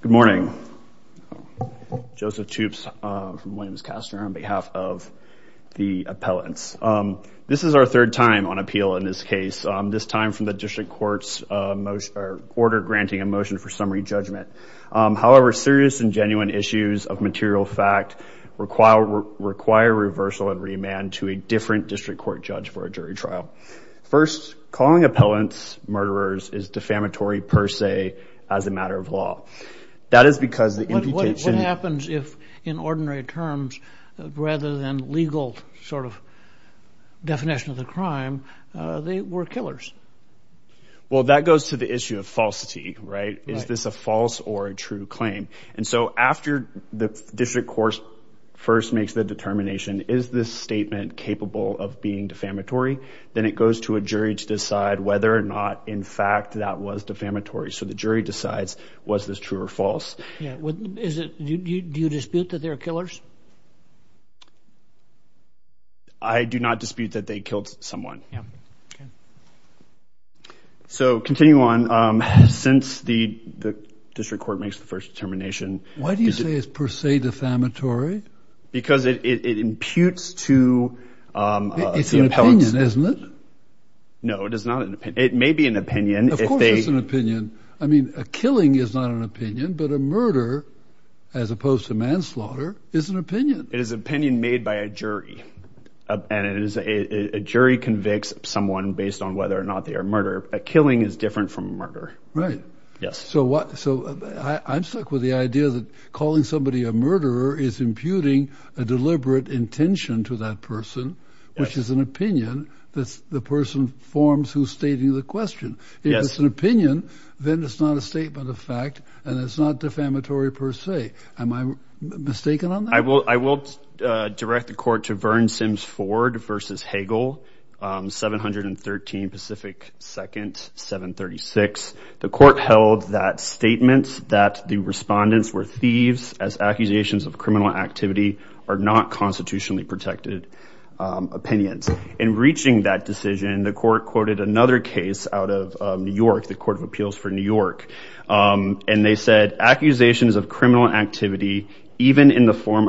Good morning. Joseph Toups from Williams Castor on behalf of the appellants. This is our third time on appeal in this case, this time from the district court's order granting a motion for summary judgment. However, serious and genuine issues of material fact require reversal and remand to a different district court judge for a jury trial. First, calling appellants murderers is defamatory per se as a matter of law. That is because... What happens if, in ordinary terms, rather than legal sort of definition of the crime, they were killers? Well, that goes to the issue of falsity, right? Is this a false or a true claim? And so after the district court first makes the determination, is this statement capable of being defamatory? Then it goes to a jury to decide whether or not, in fact, that was defamatory. So the jury decides was this true or false. Do you dispute that they're killers? I do not dispute that they killed someone. So continue on. Since the district court makes the first determination... Why do you say it's per se defamatory? Because it may be an opinion. Of course it's an opinion. I mean, a killing is not an opinion, but a murder, as opposed to manslaughter, is an opinion. It is an opinion made by a jury. And a jury convicts someone based on whether or not they are murder. A killing is different from murder. Right. Yes. So what... So I'm stuck with the idea that calling somebody a murderer is imputing a deliberate intention to that person, which is an opinion that the person forms who's stating the question. If it's an opinion, then it's not a statement of fact, and it's not defamatory per se. Am I mistaken on that? I will direct the court to Verne Sims Ford v. Hagel, 713 Pacific 2nd, 736. The court held that statements that the respondents were thieves as accusations of criminal activity are not constitutionally protected opinions. In reaching that decision, the court quoted another case out of New York, the Court of Appeals for New York, and they said accusations of criminal activity, even in the form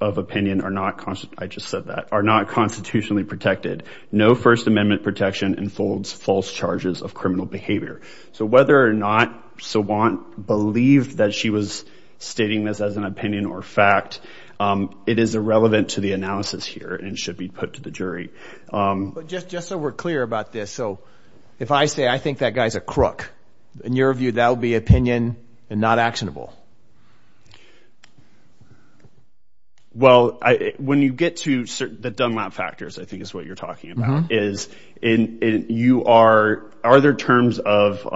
of opinion, are not... I just said that... are not constitutionally protected. No First Amendment protection enfolds false charges of criminal behavior. So whether or is irrelevant to the analysis here and should be put to the jury. Just so we're clear about this. So if I say, I think that guy's a crook, in your view, that would be opinion and not actionable. Well, when you get to the Dunlap factors, I think is what you're talking about, is in... you are... are there terms of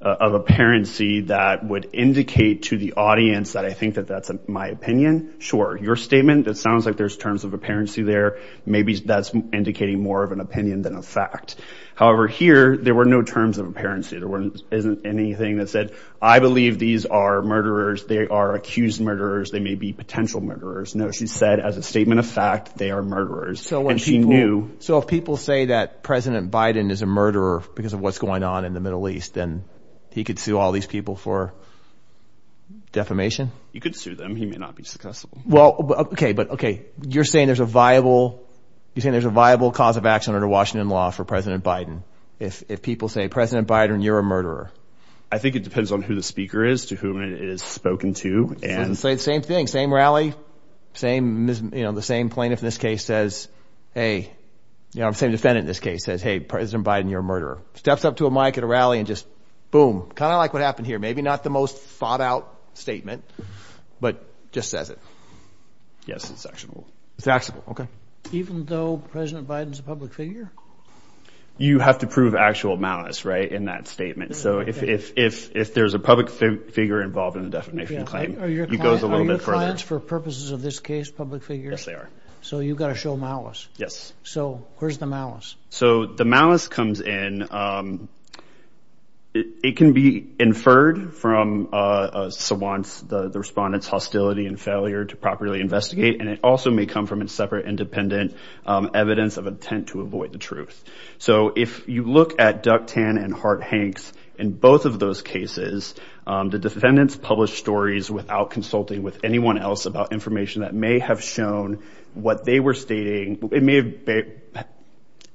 apparency that would indicate to the audience that I think that that's my opinion Sure. Your statement, it sounds like there's terms of apparency there. Maybe that's indicating more of an opinion than a fact. However, here, there were no terms of apparency. There wasn't... isn't anything that said, I believe these are murderers. They are accused murderers. They may be potential murderers. No, she said, as a statement of fact, they are murderers. So when she knew... So if people say that President Biden is a murderer because of what's going on in the Middle East, then he could sue all these people for defamation? You could sue them. He may not be successful. Well, OK, but OK, you're saying there's a viable... you're saying there's a viable cause of action under Washington law for President Biden. If people say, President Biden, you're a murderer. I think it depends on who the speaker is, to whom it is spoken to. And say the same thing, same rally, same, you know, the same plaintiff in this case says, hey, you know, same defendant in this case says, hey, President Biden, you're a murderer. Steps up to a mic at a rally and just boom, kind of like what happened here. Maybe not the most thought out statement, but just says it. Yes, it's actionable. It's actionable. OK. Even though President Biden's a public figure? You have to prove actual malice, right, in that statement. So if there's a public figure involved in a defamation claim, it goes a little bit further. Are your clients, for purposes of this case, public figures? Yes, they are. So you've got to show malice. Yes. So where's the malice? So the malice comes in. It can be inferred from the respondent's hostility and failure to properly investigate, and it also may come from a separate, independent evidence of intent to avoid the truth. So if you look at Duck Tan and Hart Hanks, in both of those cases, the defendants published stories without consulting with anyone else about information that may have shown what they were stating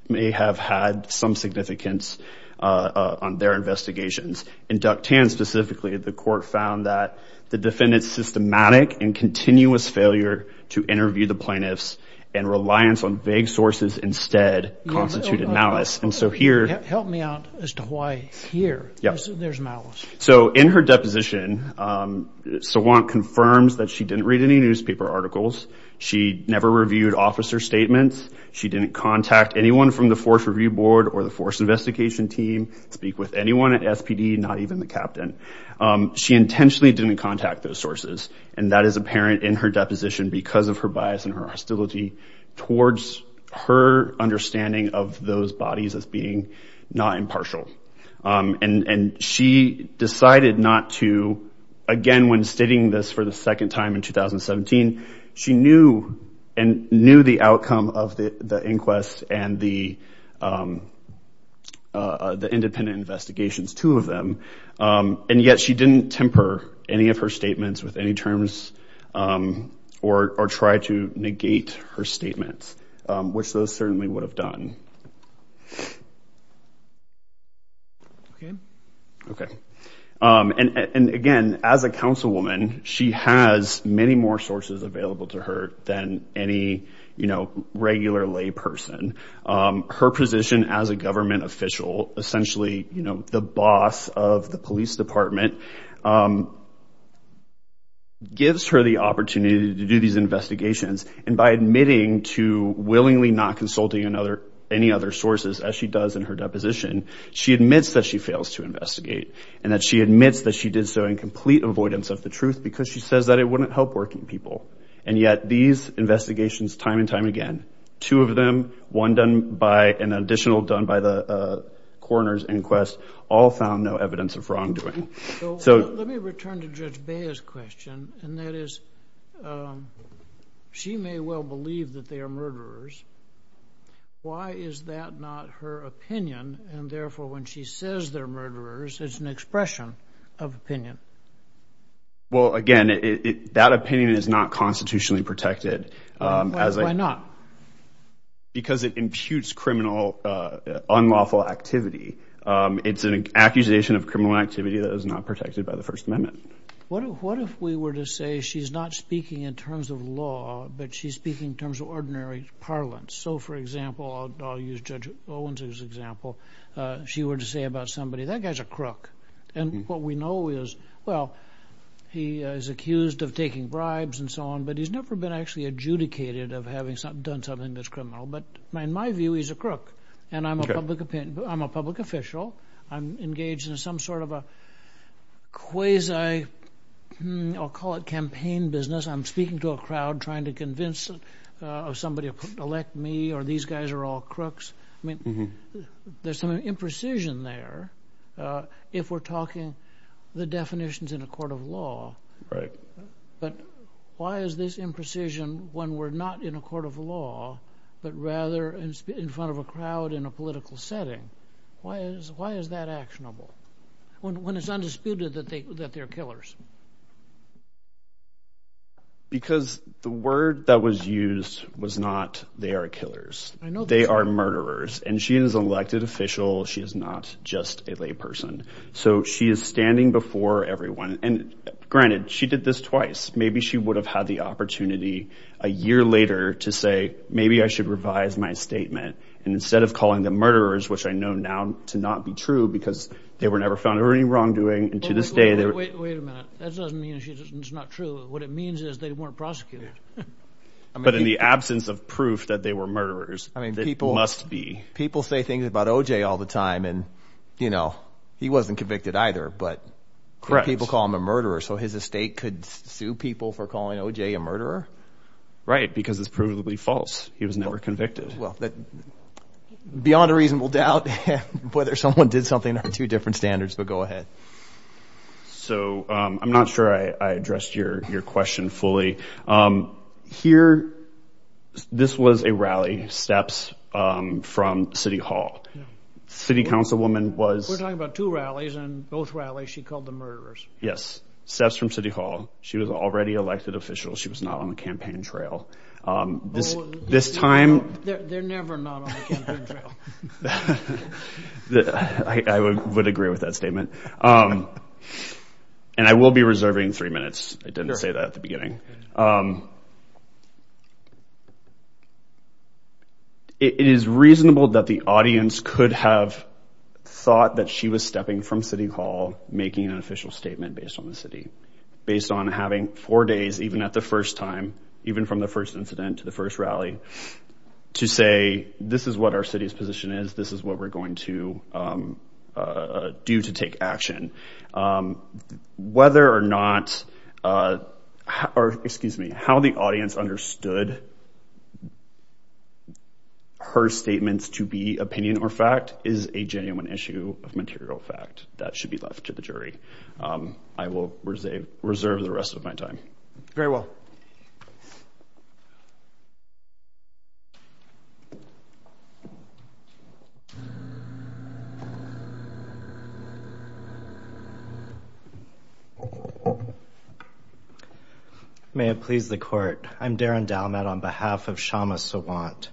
may have had some significance on their investigations. In Duck Tan specifically, the court found that the defendant's systematic and continuous failure to interview the plaintiffs and reliance on vague sources instead constituted malice. And so here... Help me out as to why here there's malice. So in her deposition, Sawant confirms that she didn't read any newspaper articles. She never reviewed officer statements. She didn't contact anyone from the force review board or the force investigation team, speak with anyone at SPD, not even the captain. She intentionally didn't contact those sources. And that is apparent in her deposition because of her bias and her hostility towards her understanding of those bodies as being not impartial. And she decided not to, again, when stating this for the second time in 2017, she knew and knew the outcome of the inquest and the independent investigations, two of them. And yet she didn't temper any of her statements with any terms or try to negate her statements, which those certainly would have done. Okay. And again, as a councilwoman, she has many more sources available to her than any, you know, regular lay person. Her position as a government official, essentially, you know, the boss of the police department, gives her the opportunity to do these investigations. And by admitting to willingly not consulting any other sources as she does in her deposition, she admits that she fails to investigate. And that she admits that she did so in complete avoidance of the truth because she says that it wouldn't help working people. And yet these investigations, time and time again, two of them, one done by an additional done by the coroner's inquest, all found no evidence of wrongdoing. Let me return to Judge Bea's question. And that is, she may well believe that they are murderers. Why is that not her opinion? And therefore, when she says they're murderers, it's an expression of opinion. Well, again, that opinion is not constitutionally protected. Why not? Because it imputes criminal, unlawful activity. It's an accusation of criminal activity that is not protected by the First Amendment. What if we were to say she's not speaking in terms of law, but she's speaking in terms of ordinary parlance? So, for example, I'll use Judge Owens's example. She were to say about somebody, that guy's a crook. And what we know is, well, he is accused of taking bribes and so on, but he's never been actually adjudicated of having done something that's criminal. But in my view, he's a crook. And I'm a public opinion, I'm a public official. I'm engaged in some sort of a quasi, I'll call it campaign business. I'm speaking to a crowd, trying to convince somebody to elect me, or these guys are all crooks. I mean, there's some imprecision there if we're talking the definitions in a court of law. Right. But why is this imprecision when we're not in a court of law, but rather in front of a crowd in a political setting? Why is that actionable when it's undisputed that they're killers? Because the word that was used was not, they are killers. They are murderers. And she is an elected official. She is not just a lay person. So she is standing before everyone. And granted, she did this twice. Maybe she would have had the opportunity a year later to say, maybe I should revise my statement. And instead of calling the murderers, which I know now to not be true, because they were never found or any wrongdoing. And to this day, they were- Wait a minute. That doesn't mean it's not true. What it means is they weren't prosecuted. But in the absence of proof that they were murderers, it must be. People say things about OJ all the time. And he wasn't convicted either, but people call him a murderer. So his estate could sue people for calling OJ a murderer? Right. Because it's provably false. He was never convicted. Well, beyond a reasonable doubt, whether someone did something are two different standards, but go ahead. So I'm not sure I addressed your question fully. Here, this was a rally. Steps from City Hall. City Councilwoman was- We're talking about two rallies and both rallies she called the murderers. Yes. Steps from City Hall. She was already elected official. She was not on the campaign trail. This time- They're never not on the campaign trail. I would agree with that statement. And I will be reserving three minutes. I didn't say that at the beginning. It is reasonable that the audience could have thought that she was stepping from City Hall, making an official statement based on the city. Based on having four days, even at the first time, even from the first incident to the first rally, to say, this is what our city's position is. This is what we're going to do to take action. Whether or not, or excuse me, how the audience understood her statements to be opinion or fact is a genuine issue of material fact that should be left to the jury. I will reserve the rest of my time. Very well. May it please the court. I'm Darren Dalmat on behalf of Shama Sawant.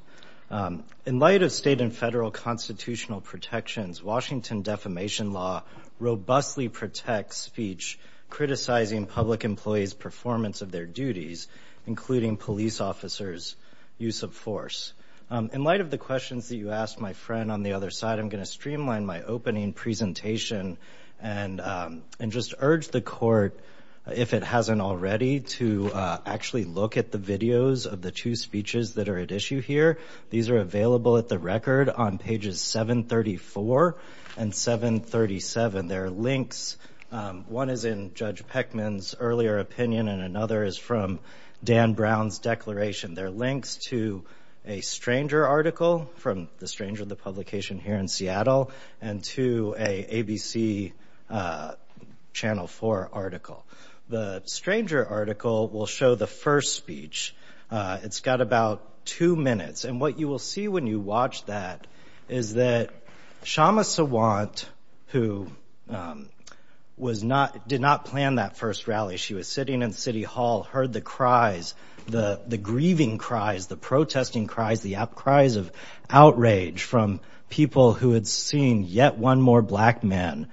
In light of state and federal constitutional protections, Washington defamation law robustly protects speech criticizing public employees' performance of their duties, including police officers' use of force. In light of the questions that you asked my friend on the other side, I'm going to streamline my opening presentation and just urge the court, if it hasn't already, to actually look at the videos of the two speeches that are at issue here. These are available at the record on pages 734 and 737. There are links. One is in Judge Peckman's earlier opinion and another is from Dan Brown's declaration. They're links to a Stranger article from the Stranger, the publication here in Seattle, and to an ABC Channel 4 article. The Stranger article will show the first speech. It's got about two minutes. And what you will see when you watch that is that Shama Sawant, who did not plan that first rally, she was sitting in City Hall, heard the cries, the grieving cries, the protesting cries, the cries of outrage from people who had seen yet one more Black man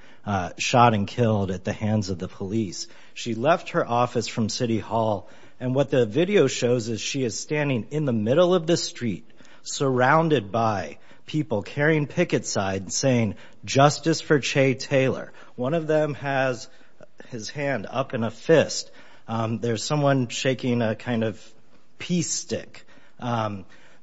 shot and killed at the hands of the police. She left her office from City Hall. And what the video shows is she is standing in the middle of the street, surrounded by people carrying picket signs saying, Justice for Che Taylor. One of them has his hand up in a fist. There's someone shaking a kind of peace stick.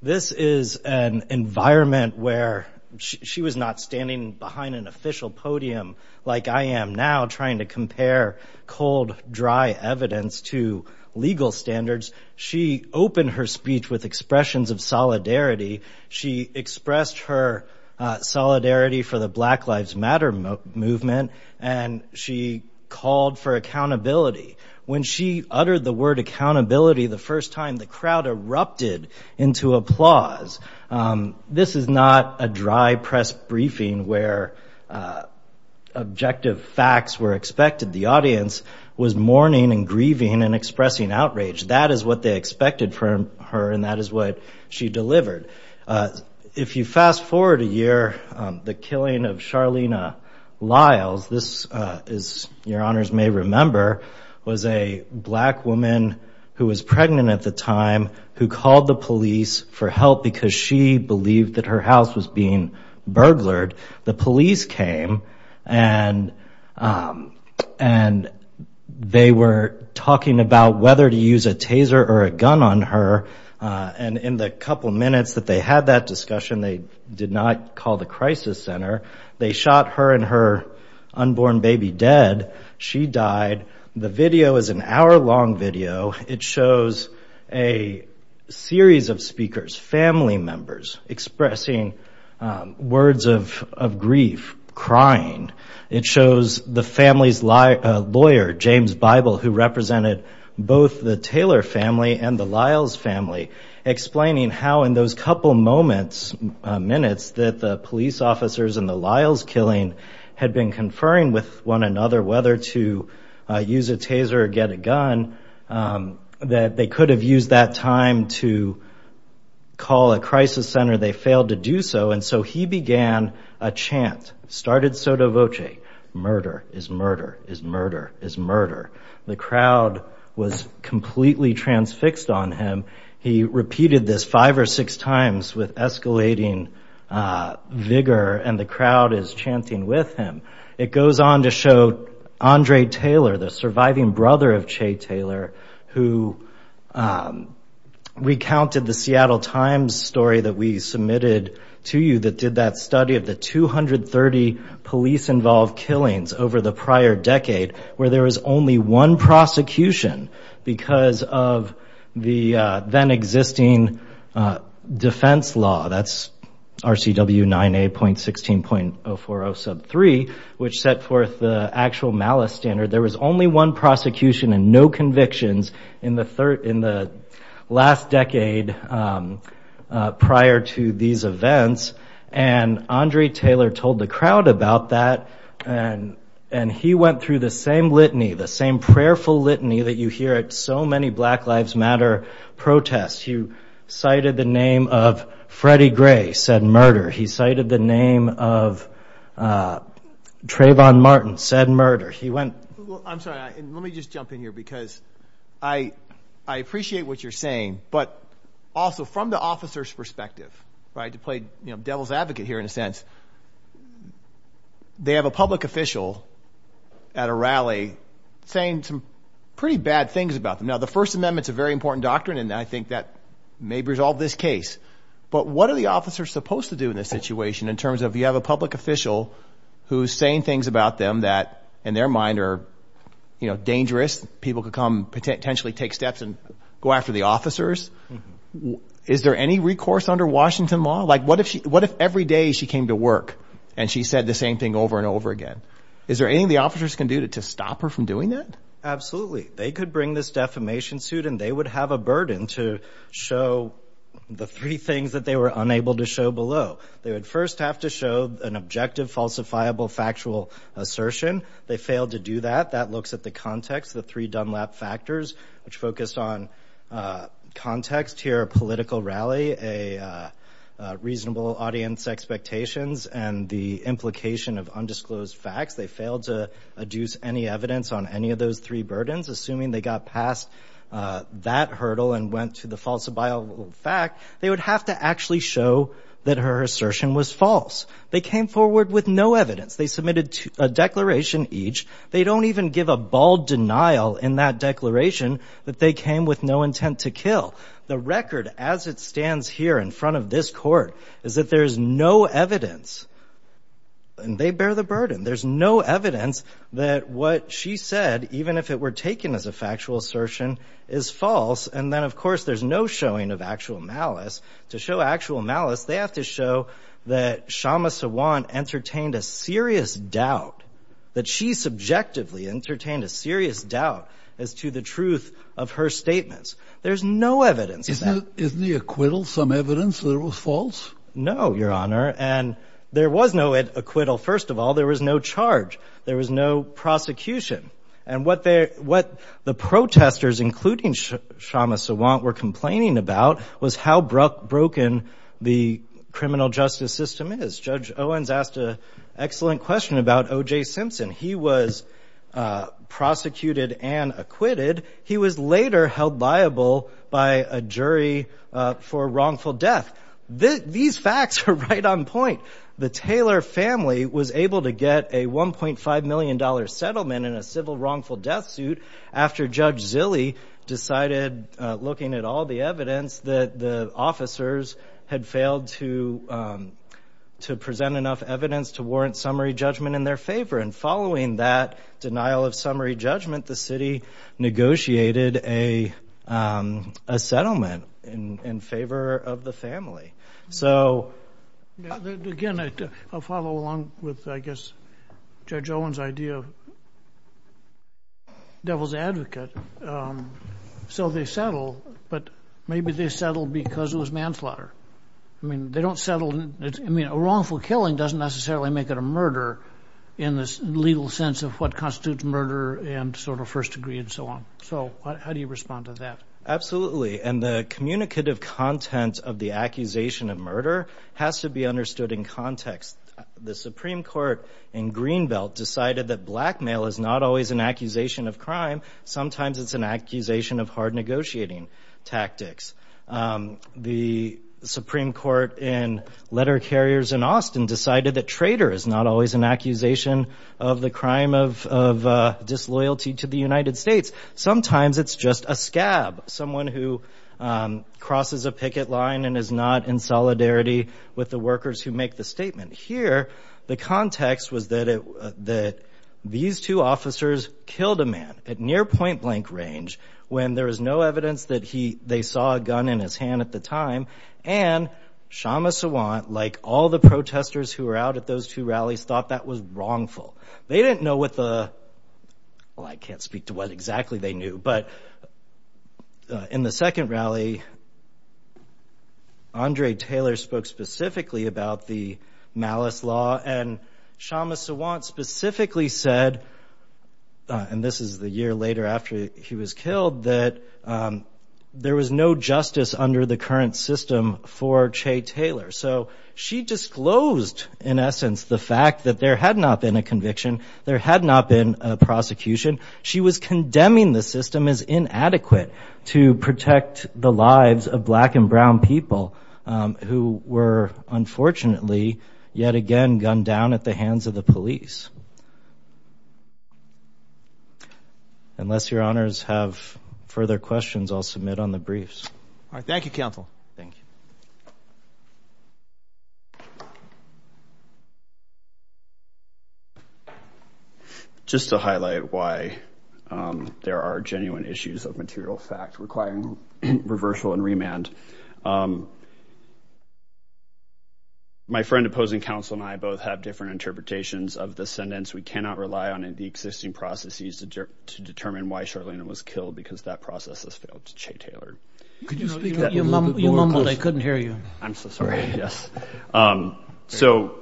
This is an environment where she was not standing behind an official podium like I am now trying to compare cold, dry evidence to legal standards. She opened her speech with expressions of solidarity. She expressed her solidarity for the Black Lives Matter movement and she called for accountability. When she uttered the word accountability, the first time the crowd erupted into applause. This is not a dry press briefing where objective facts were expected. The audience was mourning and grieving and expressing outrage. That is what they expected from her and that is what she delivered. If you fast forward a year, the killing of Charlena Lyles, this is your honors may remember, was a black woman who was pregnant at the time who called the police for help because she believed that her house was being burglared. The police came and they were talking about whether to use a taser or a gun on her. And in the couple minutes that they had that discussion, they did not call the crisis center. They shot her and her unborn baby dead. She died. The video is an hour-long video. It shows a series of speakers, family members, expressing words of grief, crying. It shows the family's lawyer, James Bible, who represented both the Taylor family and the Lyles family, explaining how in those couple moments, minutes, that the police officers and the Lyles killing had been conferring with one another whether to use a taser or get a gun, that they could have used that time to call a crisis center. They failed to do so. And so he began a chant, started Soto Voce, murder is murder is murder is murder. The crowd was completely transfixed on him. He repeated this five or six times with escalating vigor and the crowd is chanting with him. It goes on to show Andre Taylor, the surviving brother of Che Taylor, who recounted the Seattle Times story that we submitted to you that did that study of the 230 police-involved killings over the prior decade, where there was only one prosecution because of the then existing defense law, that's RCW 9A.16.0403, which set forth the actual malice standard. There was only one prosecution and no convictions in the last decade prior to these events. And Andre Taylor told the crowd about that and he went through the same litany, the same prayerful litany that you hear at so many Black Lives Matter protests. He cited the name of Freddie Gray, said murder. He cited the name of Trayvon Martin, said murder. He went... Well, I'm sorry, let me just jump in here because I appreciate what you're saying, but also from the officer's perspective, right, to play devil's advocate here in a sense, they have a public official at a rally saying some pretty bad things about them. Now, the First Amendment's a very important doctrine and I think that may resolve this case, but what are the officers supposed to do in this situation in terms of, you have a public official who's saying things about them that in their mind are, you know, dangerous, people could come, potentially take steps and go after the officers. Is there any recourse under Washington law? Like, what if every day she came to Washington and she said the same thing over and over again? Is there anything the officers can do to stop her from doing that? Absolutely. They could bring this defamation suit and they would have a burden to show the three things that they were unable to show below. They would first have to show an objective, falsifiable, factual assertion. They failed to do that. That looks at the context, the three Dunlap factors, which focused on context here, a political rally, a reasonable audience expectations, and the implication of undisclosed facts. They failed to adduce any evidence on any of those three burdens. Assuming they got past that hurdle and went to the falsifiable fact, they would have to actually show that her assertion was false. They came forward with no evidence. They submitted a declaration each. They don't even give a bald denial in that declaration that they came with no intent to kill. The record as it stands here in front of this court is that there's no evidence and they bear the burden. There's no evidence that what she said, even if it were taken as a factual assertion, is false. And then of course, there's no showing of actual malice. To show actual malice, they have to show that Shama Sawant entertained a serious doubt, that she subjectively entertained a serious doubt as to the truth of her statements. There's no evidence of that. Isn't the acquittal some evidence that it was false? No, Your Honor. And there was no acquittal. First of all, there was no charge. There was no prosecution. And what the protesters, including Shama Sawant, were complaining about was how broken the criminal justice system is. Judge Owens asked an excellent question about OJ Simpson. He was prosecuted and acquitted. He was later held liable by a jury for wrongful death. These facts are right on point. The Taylor family was able to get a $1.5 million settlement in a civil wrongful death suit after Judge Zille decided, looking at all the evidence, that the officers had failed to present enough evidence to warrant summary judgment in their favor. And following that denial of summary judgment, the city negotiated a settlement in favor of the family. So again, I'll follow along with, I guess, Judge Owens' idea of devil's advocate. So they settled, but maybe they settled because it was manslaughter. I mean, they don't settle. I mean, a wrongful killing doesn't necessarily make it a murder in the legal sense of what a first degree and so on. So how do you respond to that? Absolutely. And the communicative content of the accusation of murder has to be understood in context. The Supreme Court in Greenbelt decided that blackmail is not always an accusation of crime. Sometimes it's an accusation of hard negotiating tactics. The Supreme Court in letter carriers in Austin decided that traitor is not always an accusation of the crime of disloyalty to the United States. Sometimes it's just a scab. Someone who crosses a picket line and is not in solidarity with the workers who make the statement. Here, the context was that these two officers killed a man at near point blank range when there was no evidence that they saw a gun in his hand at the time. And Shama Sawant, like all the protesters who were out at those two rallies, thought that was wrongful. They didn't know what the, well, I can't speak to what exactly they knew. But in the second rally, Andre Taylor spoke specifically about the malice law. And Shama Sawant specifically said, and this is the year later after he was killed, that there was no justice under the current system for Che Taylor. So she disclosed, in essence, the fact that there had not been a conviction, there had not been a prosecution. She was condemning the system as inadequate to protect the lives of black and brown people who were unfortunately, yet again, gunned down at the hands of the police. Unless your honors have further questions, I'll submit on the briefs. All right, thank you, counsel. Thank you. Just to highlight why there are genuine issues of material fact requiring reversal and remand. My friend opposing counsel and I both have different interpretations of the sentence. We cannot rely on the existing processes to determine why Charlene was killed because that process has failed to Che Taylor. You mumbled, I couldn't hear you. I'm so sorry, yes. So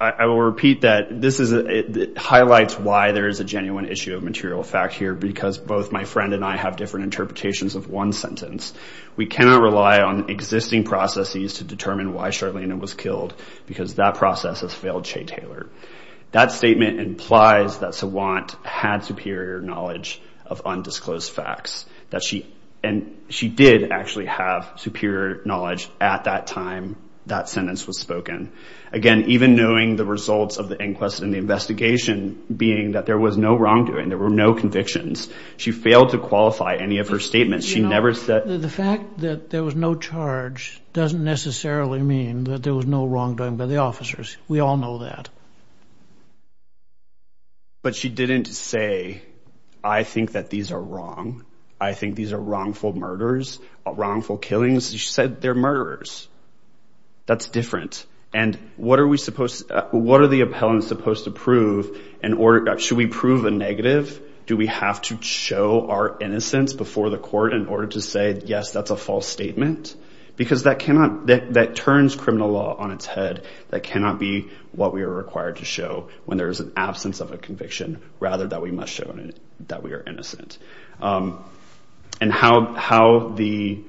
I will repeat that this highlights why there is a genuine issue of material fact here because both my friend and I have different interpretations of one sentence. We cannot rely on existing processes to determine why Charlene was killed because that process has failed Che Taylor. That statement implies that Sawant had superior knowledge of undisclosed facts and she did actually have superior knowledge at that time that sentence was spoken. Again, even knowing the results of the inquest and the investigation being that there was no wrongdoing, there were no convictions. She failed to qualify any of her statements. She never said. The fact that there was no charge doesn't necessarily mean that there was no wrongdoing by the officers. We all know that. But she didn't say, I think that these are wrong. I think these are wrongful murders, wrongful killings. She said they're murderers. That's different. And what are we supposed, what are the appellants supposed to prove in order, should we prove a negative? Do we have to show our innocence before the court in order to say, yes, that's a false statement? Because that cannot, that turns criminal law on its head. That cannot be what we are required to show when there is an absence of a conviction rather than we must show that we are innocent. And how the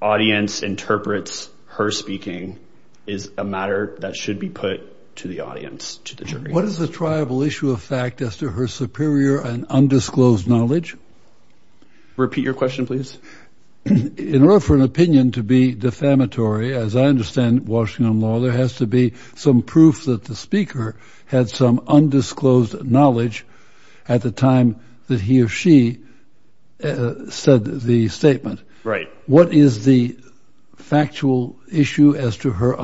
audience interprets her speaking is a matter that should be put to the audience, to the jury. What is the triable issue of fact as to her superior and undisclosed knowledge? Repeat your question, please. In order for an opinion to be defamatory, as I understand Washington law, there has to be some proof that the speaker had some undisclosed knowledge at the time that he or she said the statement. Right. What is the factual issue as to her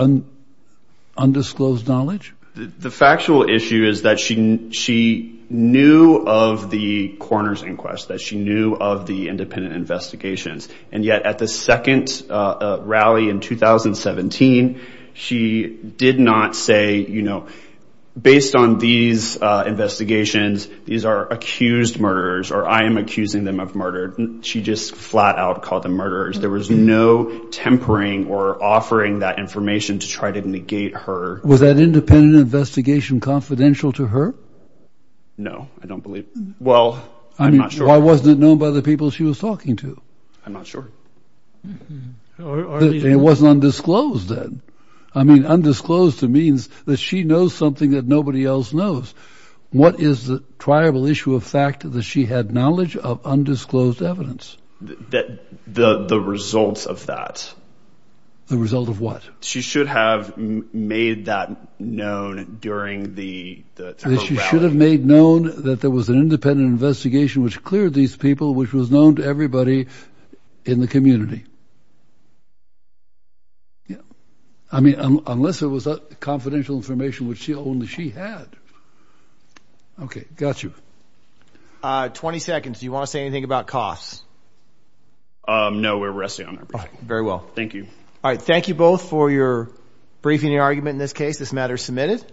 undisclosed knowledge? The factual issue is that she knew of the coroner's inquest, that she knew of the independent investigations. And yet at the second rally in 2017, she did not say, you know, based on these investigations, these are accused murderers or I am accusing them of murder. She just flat out called them murderers. There was no tempering or offering that information to try to negate her. Was that independent investigation confidential to her? No, I don't believe. Well, I'm not sure. Why wasn't it known by the people she was talking to? I'm not sure. It wasn't undisclosed then. I mean, undisclosed means that she knows something that nobody else knows. What is the triable issue of fact that she had knowledge of undisclosed evidence? The results of that. The result of what? She should have made that known during the rally. She should have made known that there was an independent investigation which cleared these people, which was known to everybody in the community. Yeah. I mean, unless it was confidential information, which only she had. Okay, got you. 20 seconds. Do you want to say anything about costs? No, we're resting on our breath. Very well. Thank you. All right. Thank you both for your briefing and argument in this case. This matter is submitted.